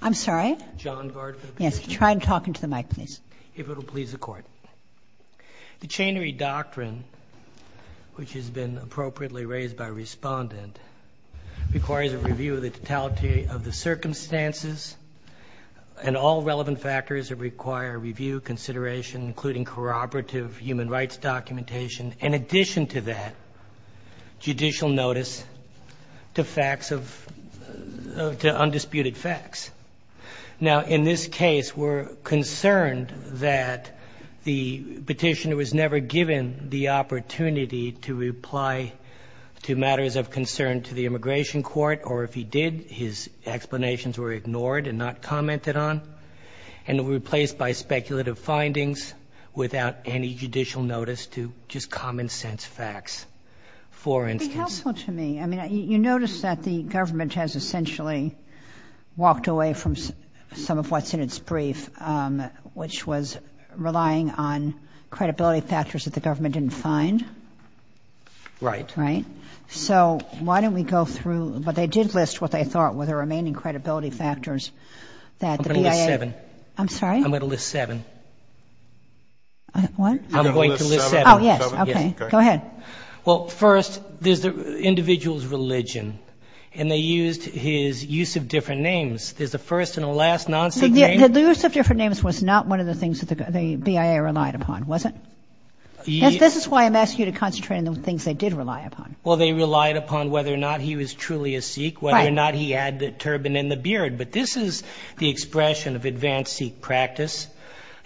I'm sorry. John Gard for the petitioner. Yes, try and talk into the mic, please. If it will please the court. The Chanery Doctrine, which has been appropriately raised by respondent, requires a review of the totality of the circumstances and all relevant factors that require review, consideration, including corroborative human rights documentation, in addition to that, judicial notice to facts of, to undisputed facts. Now, in this case, we're concerned that the petitioner was never given the opportunity to reply to matters of concern to the Immigration Court, or if he did, his explanations were ignored and not commented on and were replaced by speculative findings without any judicial notice to just common-sense facts, for instance. It's helpful to me. I mean, you notice that the government has essentially walked away from some of what's in its brief, which was relying on credibility factors that the government didn't find? Right. Right. So why don't we go through, but they did list what they thought were the remaining credibility factors that the BIA. I'm going to list seven. I'm sorry? I'm going to list seven. What? I'm going to list seven. Oh, yes. Okay. Go ahead. Well, first, there's the individual's religion, and they used his use of different names. There's the first and the last non-Sikh name. The use of different names was not one of the things that the BIA relied upon, was it? Yes. This is why I'm asking you to concentrate on the things they did rely upon. Well, they relied upon whether or not he was truly a Sikh, whether or not he had the turban and the beard. But this is the expression of advanced Sikh practice.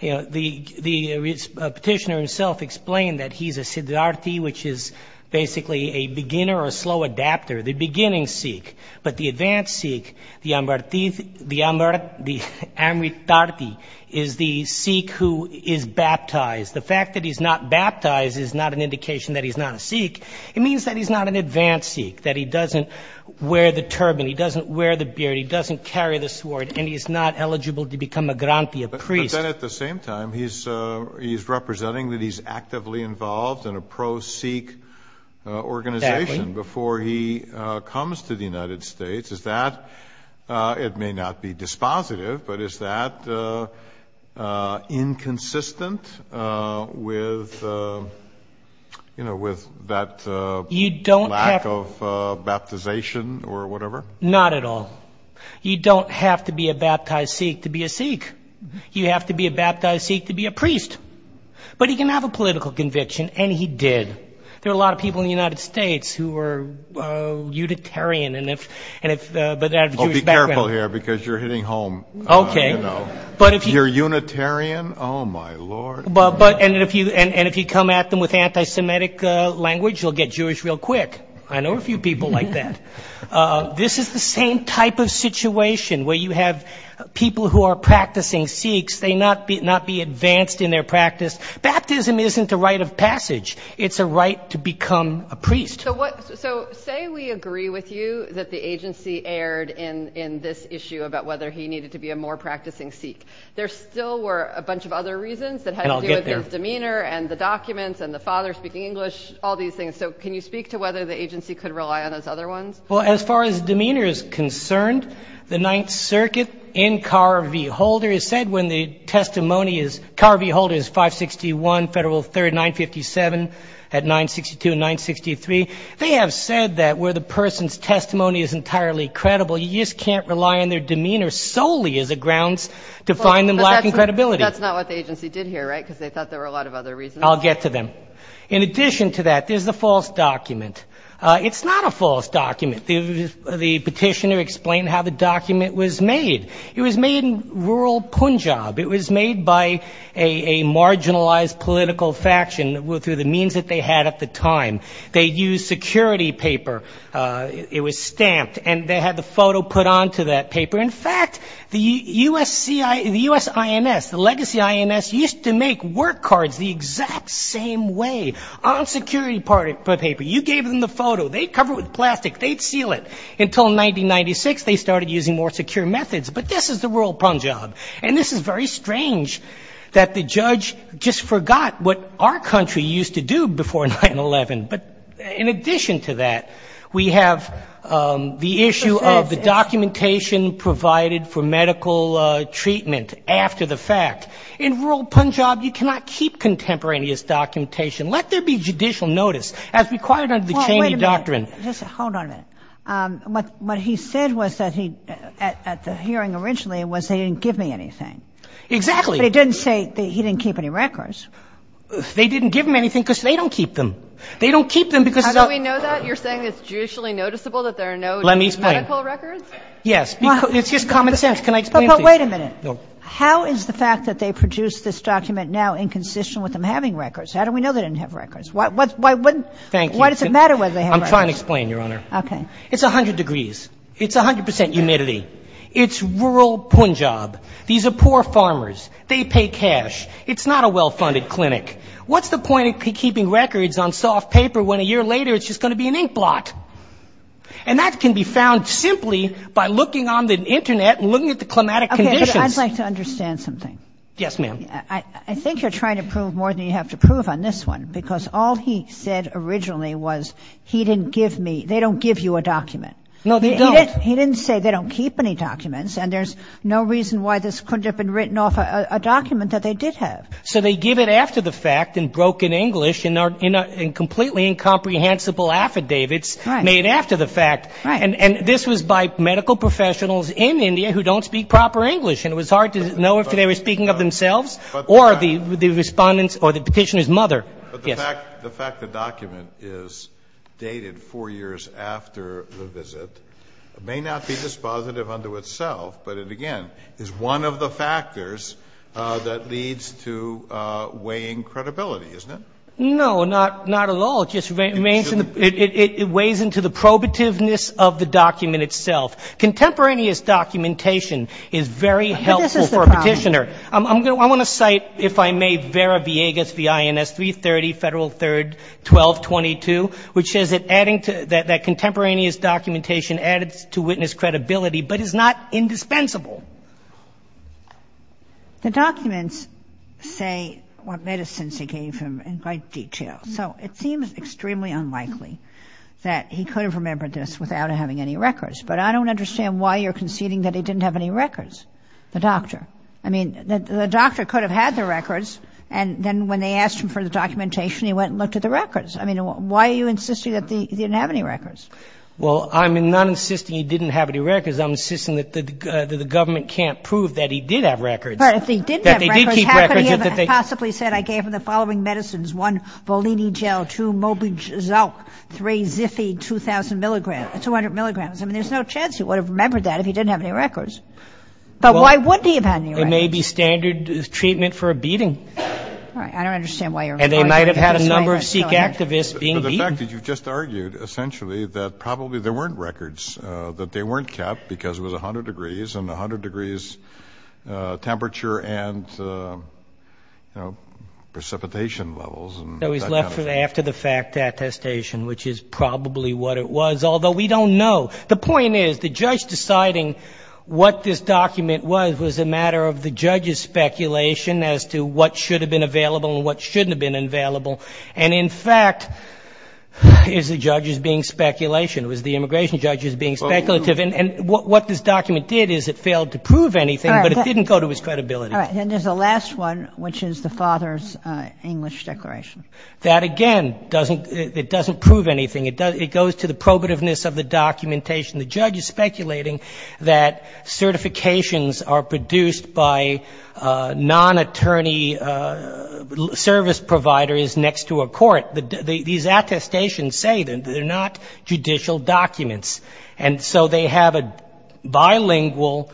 You know, the petitioner himself explained that he's a Siddharthi, which is basically a beginner or slow adapter, the beginning Sikh. But the advanced Sikh, the Amritdharti, is the Sikh who is baptized. The fact that he's not baptized is not an indication that he's not a Sikh. It means that he's not an advanced Sikh, that he doesn't wear the turban, he doesn't wear the beard, he doesn't carry the sword, and he's not eligible to become a grantee, a priest. But then at the same time, he's representing that he's actively involved in a pro-Sikh organization before he comes to the United States. Is that, it may not be dispositive, but is that inconsistent with, you know, with that lack of baptization or whatever? Not at all. You don't have to be a baptized Sikh to be a Sikh. You have to be a baptized Sikh to be a priest. But he can have a political conviction, and he did. There are a lot of people in the United States who were Unitarian, and if, and if, but Okay. But if you're Unitarian, oh my Lord. But, but, and if you, and if you come at them with anti-Semitic language, you'll get Jewish real quick. I know a few people like that. This is the same type of situation where you have people who are practicing Sikhs, they not be, not be advanced in their practice. Baptism isn't a right of passage. It's a right to become a priest. So what, so say we agree with you that the agency erred in, in this issue about whether he needed to be a more practicing Sikh. There still were a bunch of other reasons that had to do with his demeanor, and the documents, and the father speaking English, all these things. So can you speak to whether the agency could rely on those other ones? Well, as far as demeanor is concerned, the Ninth Circuit in Carr v. Holder has said when the testimony is, Carr v. Holder is 561 Federal 3rd 957 at 962 and 963. They have said that where the person's testimony is entirely credible, you just can't rely on their demeanor solely as a grounds to find them lacking credibility. That's not what the agency did here, right? Because they thought there were a lot of other reasons. I'll get to them. In addition to that, there's the false document. It's not a false document. The, the petitioner explained how the document was made. It was made in rural Punjab. It was made by a, a marginalized political faction through the means that they had at the time. They used security paper. It was stamped, and they had the photo put onto that paper. In fact, the USC, the USINS, the legacy INS, used to make work cards the exact same way on security party paper. You gave them the photo. They'd cover it with plastic. They'd seal it. Until 1996, they started using more secure methods. But this is the rural Punjab, and this is very strange that the judge just forgot what our country used to do before 9-11. But in addition to that, we have the issue of the documentation provided for medical treatment after the fact. In rural Punjab, you cannot keep contemporaneous documentation. Let there be judicial notice, as required under the Cheney Doctrine. Kagan. Kagan. Well, wait a minute. Just hold on a minute. What, what he said was that he, at, at the hearing originally was they didn't give me anything. Exactly. But he didn't say that he didn't keep any records. They didn't give him anything because they don't keep them. They don't keep them because it's a — How do we know that? You're saying it's judicially noticeable that there are no medical records? Let me explain. Yes. It's just common sense. Can I explain, please? But, but wait a minute. No. How is the fact that they produced this document now inconsistent with them having records? How do we know they didn't have records? Why, why wouldn't — Thank you. Why does it matter whether they have records? I'm trying to explain, Your Honor. Okay. It's 100 degrees. It's 100 percent humidity. It's rural Punjab. These are poor farmers. They pay cash. It's not a well-funded clinic. What's the point of keeping records on soft paper when a year later it's just going to be an inkblot? And that can be found simply by looking on the Internet and looking at the climatic conditions. Okay. But I'd like to understand something. Yes, ma'am. I, I think you're trying to prove more than you have to prove on this one because all he said originally was he didn't give me — they don't give you a document. No, they don't. He didn't say they don't keep any documents and there's no reason why this couldn't have been written off a document that they did have. So they give it after the fact in broken English and are in a, in completely incomprehensible affidavits made after the fact. Right. And, and this was by medical professionals in India who don't speak proper English and it was hard to know if they were speaking of themselves or the, the respondent's or the petitioner's mother. But the fact, the fact the document is dated four years after the visit may not be dispositive unto itself, but it again is one of the factors that leads to weighing credibility, isn't it? No, not, not at all. It just remains in the, it, it, it weighs into the probativeness of the document itself. Contemporaneous documentation is very helpful for a petitioner. I'm going to, I want to cite, if I may, Vera Viegas, V-I-N-S, 330 Federal 3rd, 1222, which says that adding to, that, that contemporaneous documentation adds to witness credibility, but is not indispensable. The documents say what medicines he gave him in great detail. So it seems extremely unlikely that he could have remembered this without having any records. But I don't understand why you're conceding that he didn't have any records, the doctor. I mean, the doctor could have had the records, and then when they asked him for the documentation, he went and looked at the records. I mean, why are you insisting that he didn't have any records? Well, I'm not insisting he didn't have any records. I'm insisting that the, that the government can't prove that he did have records. But if he didn't have records, how could he have possibly said I gave him the following medicines? One, bolini gel, two, mobigel, three, ziffy, 2,000 milligrams, 200 milligrams. I mean, there's no chance he would have remembered that if he didn't have any records. But why would he have had any records? It may be standard treatment for a beating. All right. I don't understand why you're. And they might have had a number of Sikh activists being beaten. But the fact that you've just argued essentially that probably there weren't records, that they weren't kept because it was 100 degrees and 100 degrees temperature and, you know, precipitation levels. So he's left after the fact attestation, which is probably what it was, although we don't know. The point is the judge deciding what this document was, was a matter of the judge's speculation as to what should have been available and what shouldn't have been available. And in fact, is the judge's being speculation. It was the immigration judge's being speculative. And what this document did is it failed to prove anything, but it didn't go to his credibility. All right. And there's a last one, which is the father's English declaration. That, again, doesn't, it doesn't prove anything. It goes to the probativeness of the documentation. The judge is speculating that certifications are produced by non-attorney service provider is next to a court. These attestations say that they're not judicial documents. And so they have a bilingual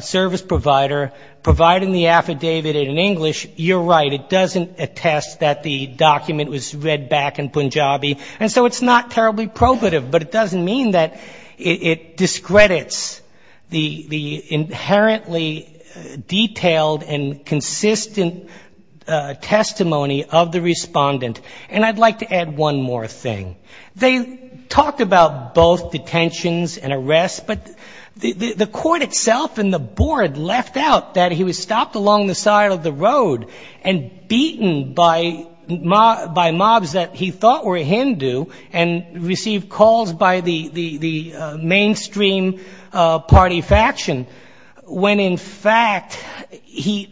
service provider providing the affidavit in English. You're right. It doesn't attest that the document was read back in Punjabi. And so it's not terribly probative, but it doesn't mean that it discredits the inherently detailed and consistent testimony of the respondent. And I'd like to add one more thing. They talked about both detentions and arrests, but the court itself and the board left out that he was stopped along the side of the road and beaten by mobs that he thought were Hindu and received calls by the mainstream party faction, when in fact, he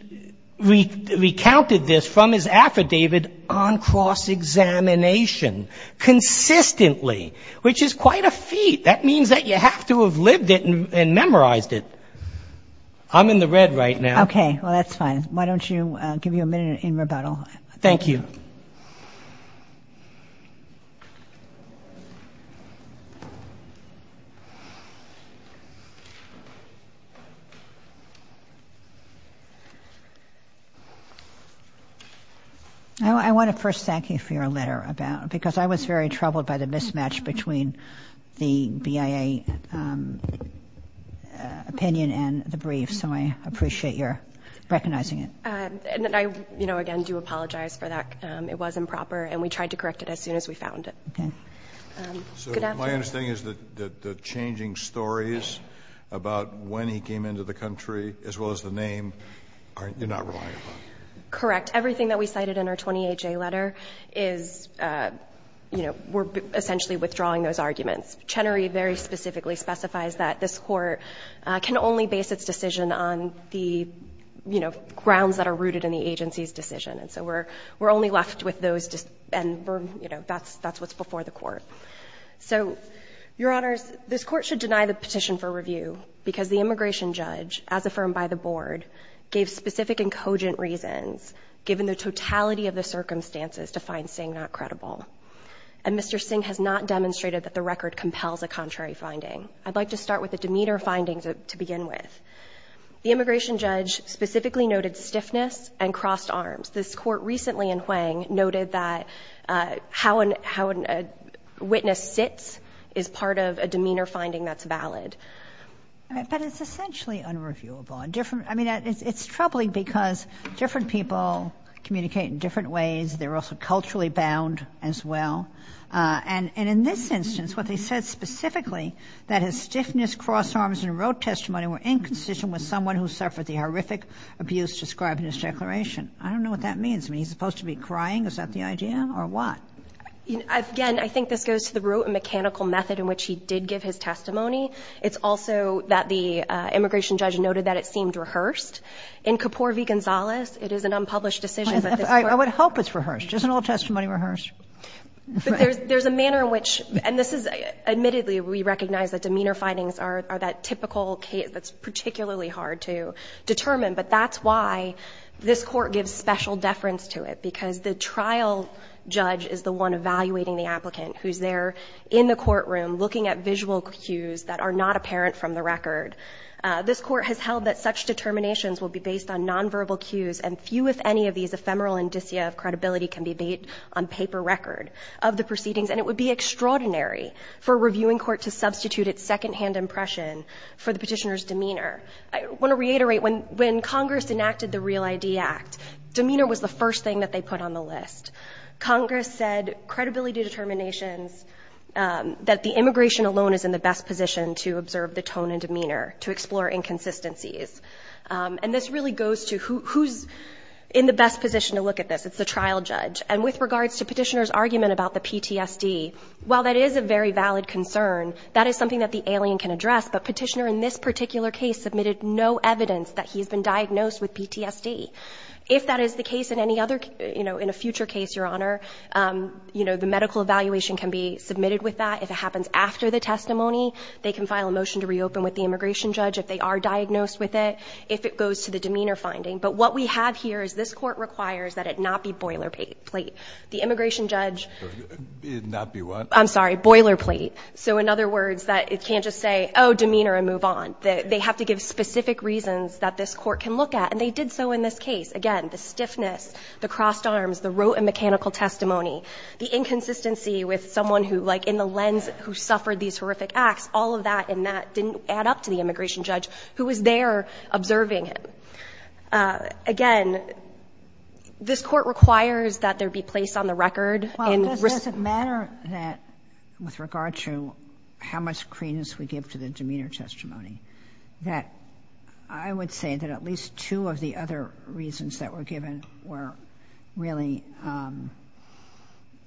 recounted this from his affidavit on cross-examination, consistently, which is quite a feat. That means that you have to have lived it and memorized it. I'm in the red right now. Okay. Well, that's fine. Why don't you give me a minute in rebuttal? Thank you. I want to first thank you for your letter because I was very troubled by the mismatch between the BIA opinion and the brief, so I appreciate your recognizing it. And I, you know, again, do apologize for that. It was improper, and we tried to correct it as soon as we found it. Okay. Good afternoon. So my understanding is that the changing stories about when he came into the country, as well as the name, you're not relying upon? Correct. Everything that we cited in our 28-J letter is, you know, we're essentially withdrawing those arguments. Chenery very specifically specifies that this court can only base its decision on the, you know, grounds that are rooted in the agency's decision. And so we're only left with those, and, you know, that's what's before the court. So, Your Honors, this court should deny the petition for review because the immigration judge, as affirmed by the board, gave specific and cogent reasons, given the totality of the circumstances, to find Singh not credible. And Mr. Singh has not demonstrated that the record compels a contrary finding. I'd like to start with a demeanor finding to begin with. The immigration judge specifically noted stiffness and crossed arms. This court recently in Huang noted that how a witness sits is part of a demeanor finding that's valid. But it's essentially unreviewable. I mean, it's troubling because different people communicate in different ways. They're also culturally bound as well. And in this instance, what they said specifically, that his stiffness, crossed arms, and wrote testimony were inconsistent with someone who suffered the horrific abuse described in his declaration. I don't know what that means. I mean, he's supposed to be crying? Is that the idea, or what? Again, I think this goes to the root and mechanical method in which he did give his testimony. It's also that the immigration judge noted that it seemed rehearsed. In Kapoor v. Gonzales, it is an unpublished decision. I would hope it's rehearsed. Isn't all testimony rehearsed? But there's a manner in which, and this is, admittedly, we recognize that demeanor findings are that typical case that's particularly hard to determine. But that's why this court gives special deference to it. Because the trial judge is the one evaluating the applicant who's there in the courtroom looking at visual cues that are not apparent from the record. This court has held that such determinations will be based on nonverbal cues. And few, if any, of these ephemeral indicia of credibility can be made on paper record of the proceedings. And it would be extraordinary for a reviewing court to substitute its second-hand impression for the petitioner's demeanor. I want to reiterate, when Congress enacted the REAL-ID Act, demeanor was the first thing that they put on the list. Congress said, credibility determinations, that the immigration alone is in the best position to observe the tone and demeanor, to explore inconsistencies. And this really goes to who's in the best position to look at this. It's the trial judge. And with regards to petitioner's argument about the PTSD, while that is a very valid concern, that is something that the alien can address. But petitioner, in this particular case, submitted no evidence that he's been diagnosed with PTSD. If that is the case in any other, you know, in a future case, Your Honor, you know, the medical evaluation can be submitted with that. If it happens after the testimony, they can file a motion to reopen with the immigration judge if they are diagnosed with it, if it goes to the demeanor finding. But what we have here is this court requires that it not be boilerplate. The immigration judge... It not be what? I'm sorry, boilerplate. So in other words, that it can't just say, oh, demeanor and move on. They have to give specific reasons that this Court can look at. And they did so in this case. Again, the stiffness, the crossed arms, the rote and mechanical testimony, the inconsistency with someone who, like, in the lens who suffered these horrific acts, all of that in that didn't add up to the immigration judge who was there observing him. Again, this Court requires that there be place on the record and... And I remember that with regard to how much credence we give to the demeanor testimony, that I would say that at least two of the other reasons that were given were really,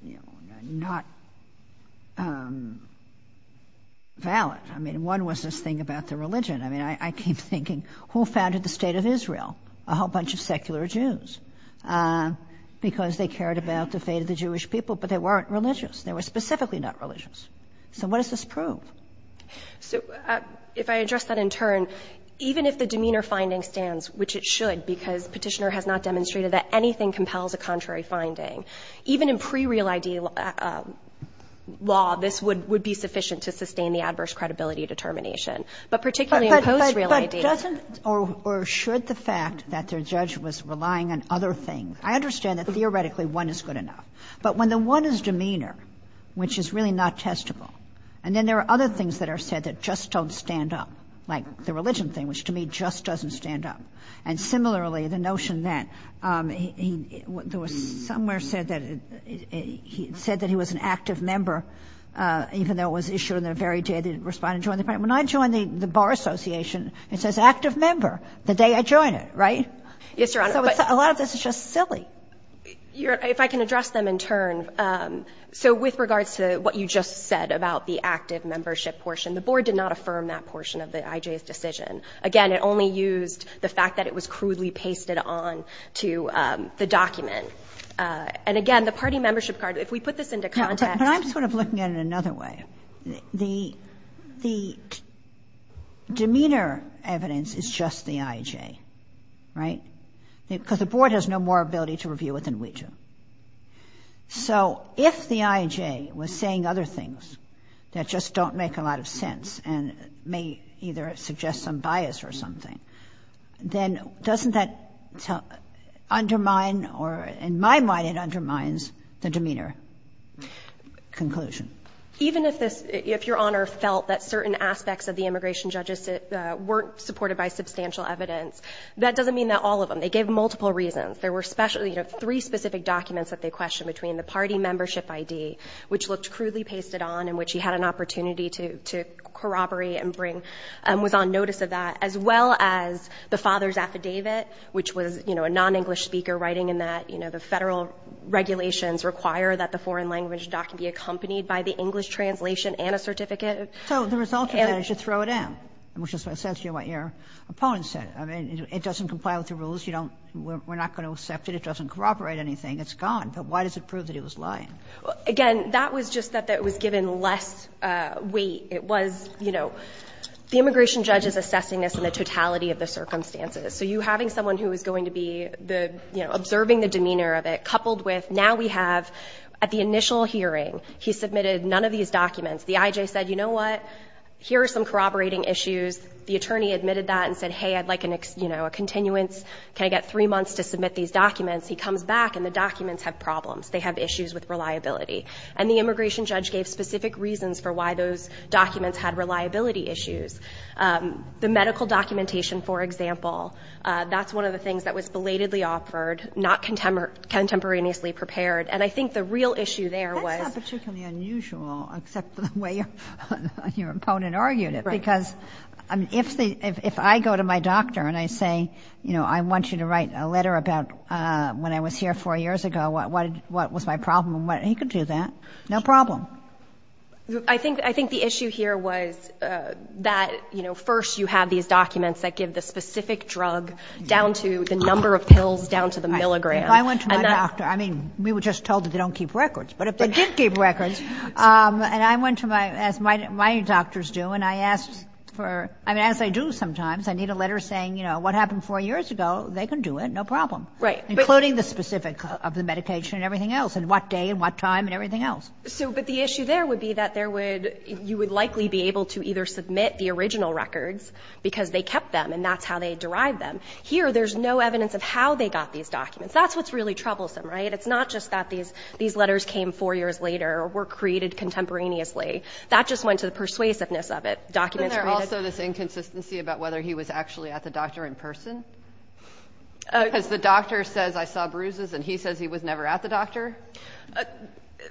you know, not valid. I mean, one was this thing about the religion. I mean, I keep thinking, who founded the State of Israel? A whole bunch of secular Jews because they cared about the fate of the Jewish people, but they weren't religious. They were specifically not religious. So what does this prove? So if I address that in turn, even if the demeanor finding stands, which it should because Petitioner has not demonstrated that anything compels a contrary finding, even in pre-real ID law, this would be sufficient to sustain the adverse credibility determination. But particularly in post-real ID... But doesn't or should the fact that their judge was relying on other things? I understand that theoretically one is good enough. But when the one is demeanor, which is really not testable, and then there are other things that are said that just don't stand up, like the religion thing, which to me just doesn't stand up. And similarly, the notion that there was somewhere said that he said that he was an active member, even though it was issued in the very day that he responded and joined the party. When I joined the Bar Association, it says active member the day I joined it, right? Yes, Your Honor. So a lot of this is just silly. If I can address them in turn, so with regards to what you just said about the active membership portion, the board did not affirm that portion of the IJ's decision. Again, it only used the fact that it was crudely pasted on to the document. And again, the party membership card, if we put this into context... But I'm sort of looking at it another way. The demeanor evidence is just the IJ, right? Because the board has no more ability to review it than we do. So if the IJ was saying other things that just don't make a lot of sense and may either suggest some bias or something, then doesn't that undermine or, in my mind, it undermines the demeanor conclusion? Even if Your Honor felt that certain aspects of the immigration judges weren't supported by substantial evidence, that doesn't mean that all of them. They gave multiple reasons. There were three specific documents that they questioned between the party membership ID, which looked crudely pasted on and which he had an opportunity to corroborate and was on notice of that, as well as the father's affidavit, which was a non-English speaker writing in that the federal regulations require that the foreign language document be accompanied by the English translation and a certificate. So the result of that is you throw it in, which is what your opponent said. I mean, it doesn't comply with the rules. You don't – we're not going to accept it. It doesn't corroborate anything. It's gone. But why does it prove that it was lying? Again, that was just that it was given less weight. It was, you know – the immigration judge is assessing this in the totality of the circumstances. So you having someone who is going to be the – you know, observing the demeanor of it coupled with now we have at the initial hearing he submitted none of these documents. The IJ said, you know what, here are some corroborating issues. The attorney admitted that and said, hey, I'd like, you know, a continuance. Can I get three months to submit these documents? He comes back and the documents have problems. They have issues with reliability. And the immigration judge gave specific reasons for why those documents had reliability issues. The medical documentation, for example, that's one of the things that was belatedly offered, not contemporaneously prepared. And I think the real issue there was – Except for the way your opponent argued it. Because if I go to my doctor and I say, you know, I want you to write a letter about when I was here four years ago, what was my problem? He could do that. No problem. I think the issue here was that, you know, first you have these documents that give the specific drug down to the number of pills down to the milligram. If I went to my doctor – I mean, we were just told that they don't keep records. But if they did keep records – and I went to my – as my doctors do, and I asked for – I mean, as I do sometimes, I need a letter saying, you know, what happened four years ago? They can do it. No problem. Right. Including the specifics of the medication and everything else and what day and what time and everything else. So – but the issue there would be that there would – you would likely be able to either submit the original records because they kept them and that's how they derived them. Here, there's no evidence of how they got these documents. That's what's really troublesome, right? It's not just that these letters came four years later or were created contemporaneously. That just went to the persuasiveness of it. Documents – Isn't there also this inconsistency about whether he was actually at the doctor in person? Because the doctor says, I saw bruises, and he says he was never at the doctor?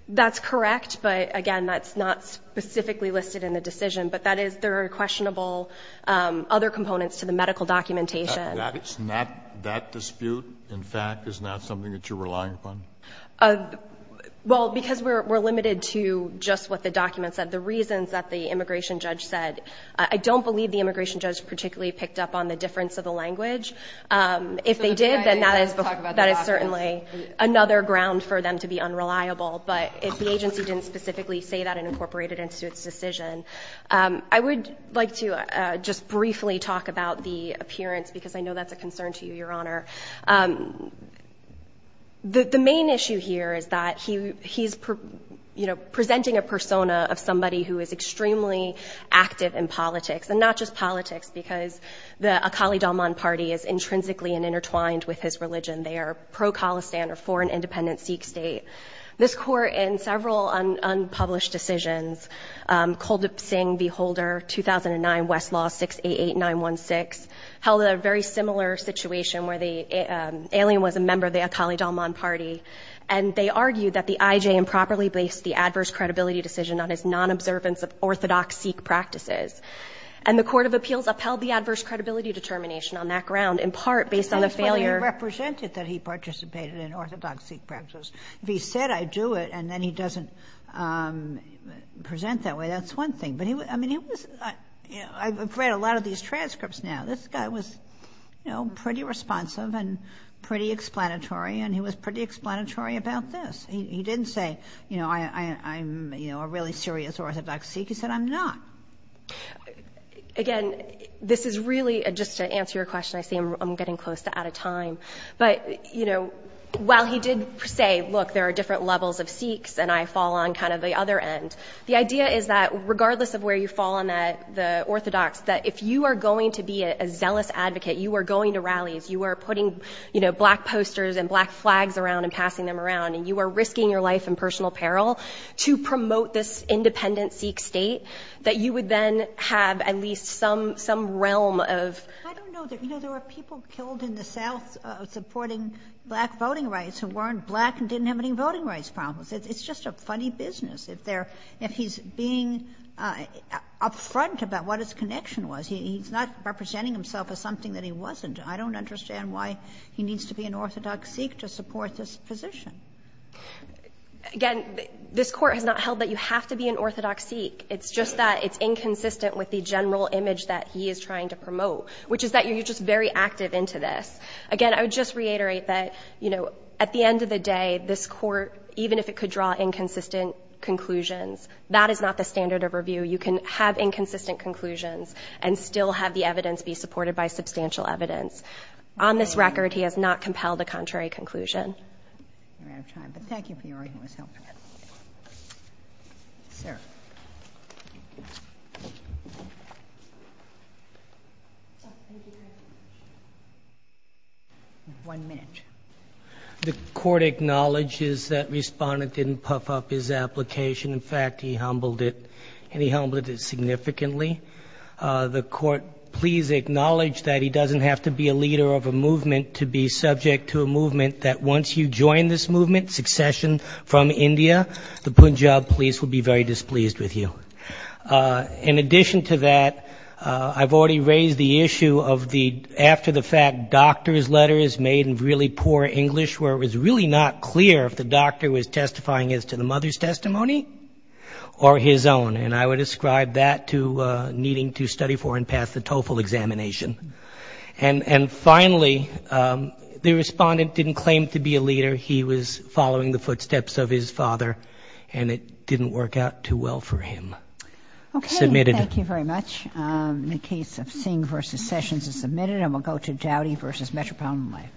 That's correct, but again, that's not specifically listed in the decision. But that is – there are questionable other components to the medical documentation. That's not – that dispute, in fact, is not something that you're relying upon? Well, because we're limited to just what the documents said. The reasons that the immigration judge said – I don't believe the immigration judge particularly picked up on the difference of the language. If they did, then that is – So the fact that they didn't talk about the documents – That is certainly another ground for them to be unreliable. But if the agency didn't specifically say that and incorporated it into its decision. I would like to just briefly talk about the appearance, because I know that's a concern to you, Your Honor. The main issue here is that he's presenting a persona of somebody who is extremely active in politics. And not just politics, because the Akali Dalman party is intrinsically intertwined with his religion. They are pro-Khalistan or for an independent Sikh state. This Court in several unpublished decisions, Kuldeep Singh v. Holder, 2009, Westlaw 688916, held a very similar situation where the alien was a member of the Akali Dalman party. And they argued that the IJ improperly based the adverse credibility decision on his non-observance of orthodox Sikh practices. And the Court of Appeals upheld the adverse credibility determination on that ground, in part based on the failure – He said, I do it, and then he doesn't present that way. That's one thing. But I've read a lot of these transcripts now. This guy was pretty responsive and pretty explanatory, and he was pretty explanatory about this. He didn't say, I'm a really serious orthodox Sikh. He said, I'm not. Again, this is really – just to answer your question, I see I'm getting close to out of time. But, you know, while he did say, look, there are different levels of Sikhs, and I fall on kind of the other end. The idea is that regardless of where you fall on the orthodox, that if you are going to be a zealous advocate, you are going to rallies, you are putting, you know, black posters and black flags around and passing them around, and you are risking your life and personal peril to promote this independent Sikh state, that you would then have at least some realm of – of supporting black voting rights who weren't black and didn't have any voting rights problems. It's just a funny business if they're – if he's being upfront about what his connection was. He's not representing himself as something that he wasn't. I don't understand why he needs to be an orthodox Sikh to support this position. Again, this Court has not held that you have to be an orthodox Sikh. It's just that it's inconsistent with the general image that he is trying to promote, which is that you're just very active into this. Again, I would just reiterate that, you know, at the end of the day, this Court, even if it could draw inconsistent conclusions, that is not the standard of review. You can have inconsistent conclusions and still have the evidence be supported by substantial evidence. On this record, he has not compelled a contrary conclusion. We're out of time, but thank you for your endless help. Sir. One minute. The Court acknowledges that Respondent didn't puff up his application. In fact, he humbled it, and he humbled it significantly. The Court, please acknowledge that he doesn't have to be a leader of a movement to be subject to a movement that, once you join this movement, succession from India, the Punjab police will be very displeased with you. In addition to that, I've already raised the issue of the after-the-fact doctor's letters made in really poor English, where it was really not clear if the doctor was testifying as to the mother's testimony or his own. And I would ascribe that to needing to study for and pass the TOEFL examination. And finally, the Respondent didn't claim to be a leader. He was following the footsteps of his father, and it didn't work out too well for him. Submitted. Thank you very much. The case of Singh v. Sessions is submitted, and we'll go to Doughty v. Metropolitan Life.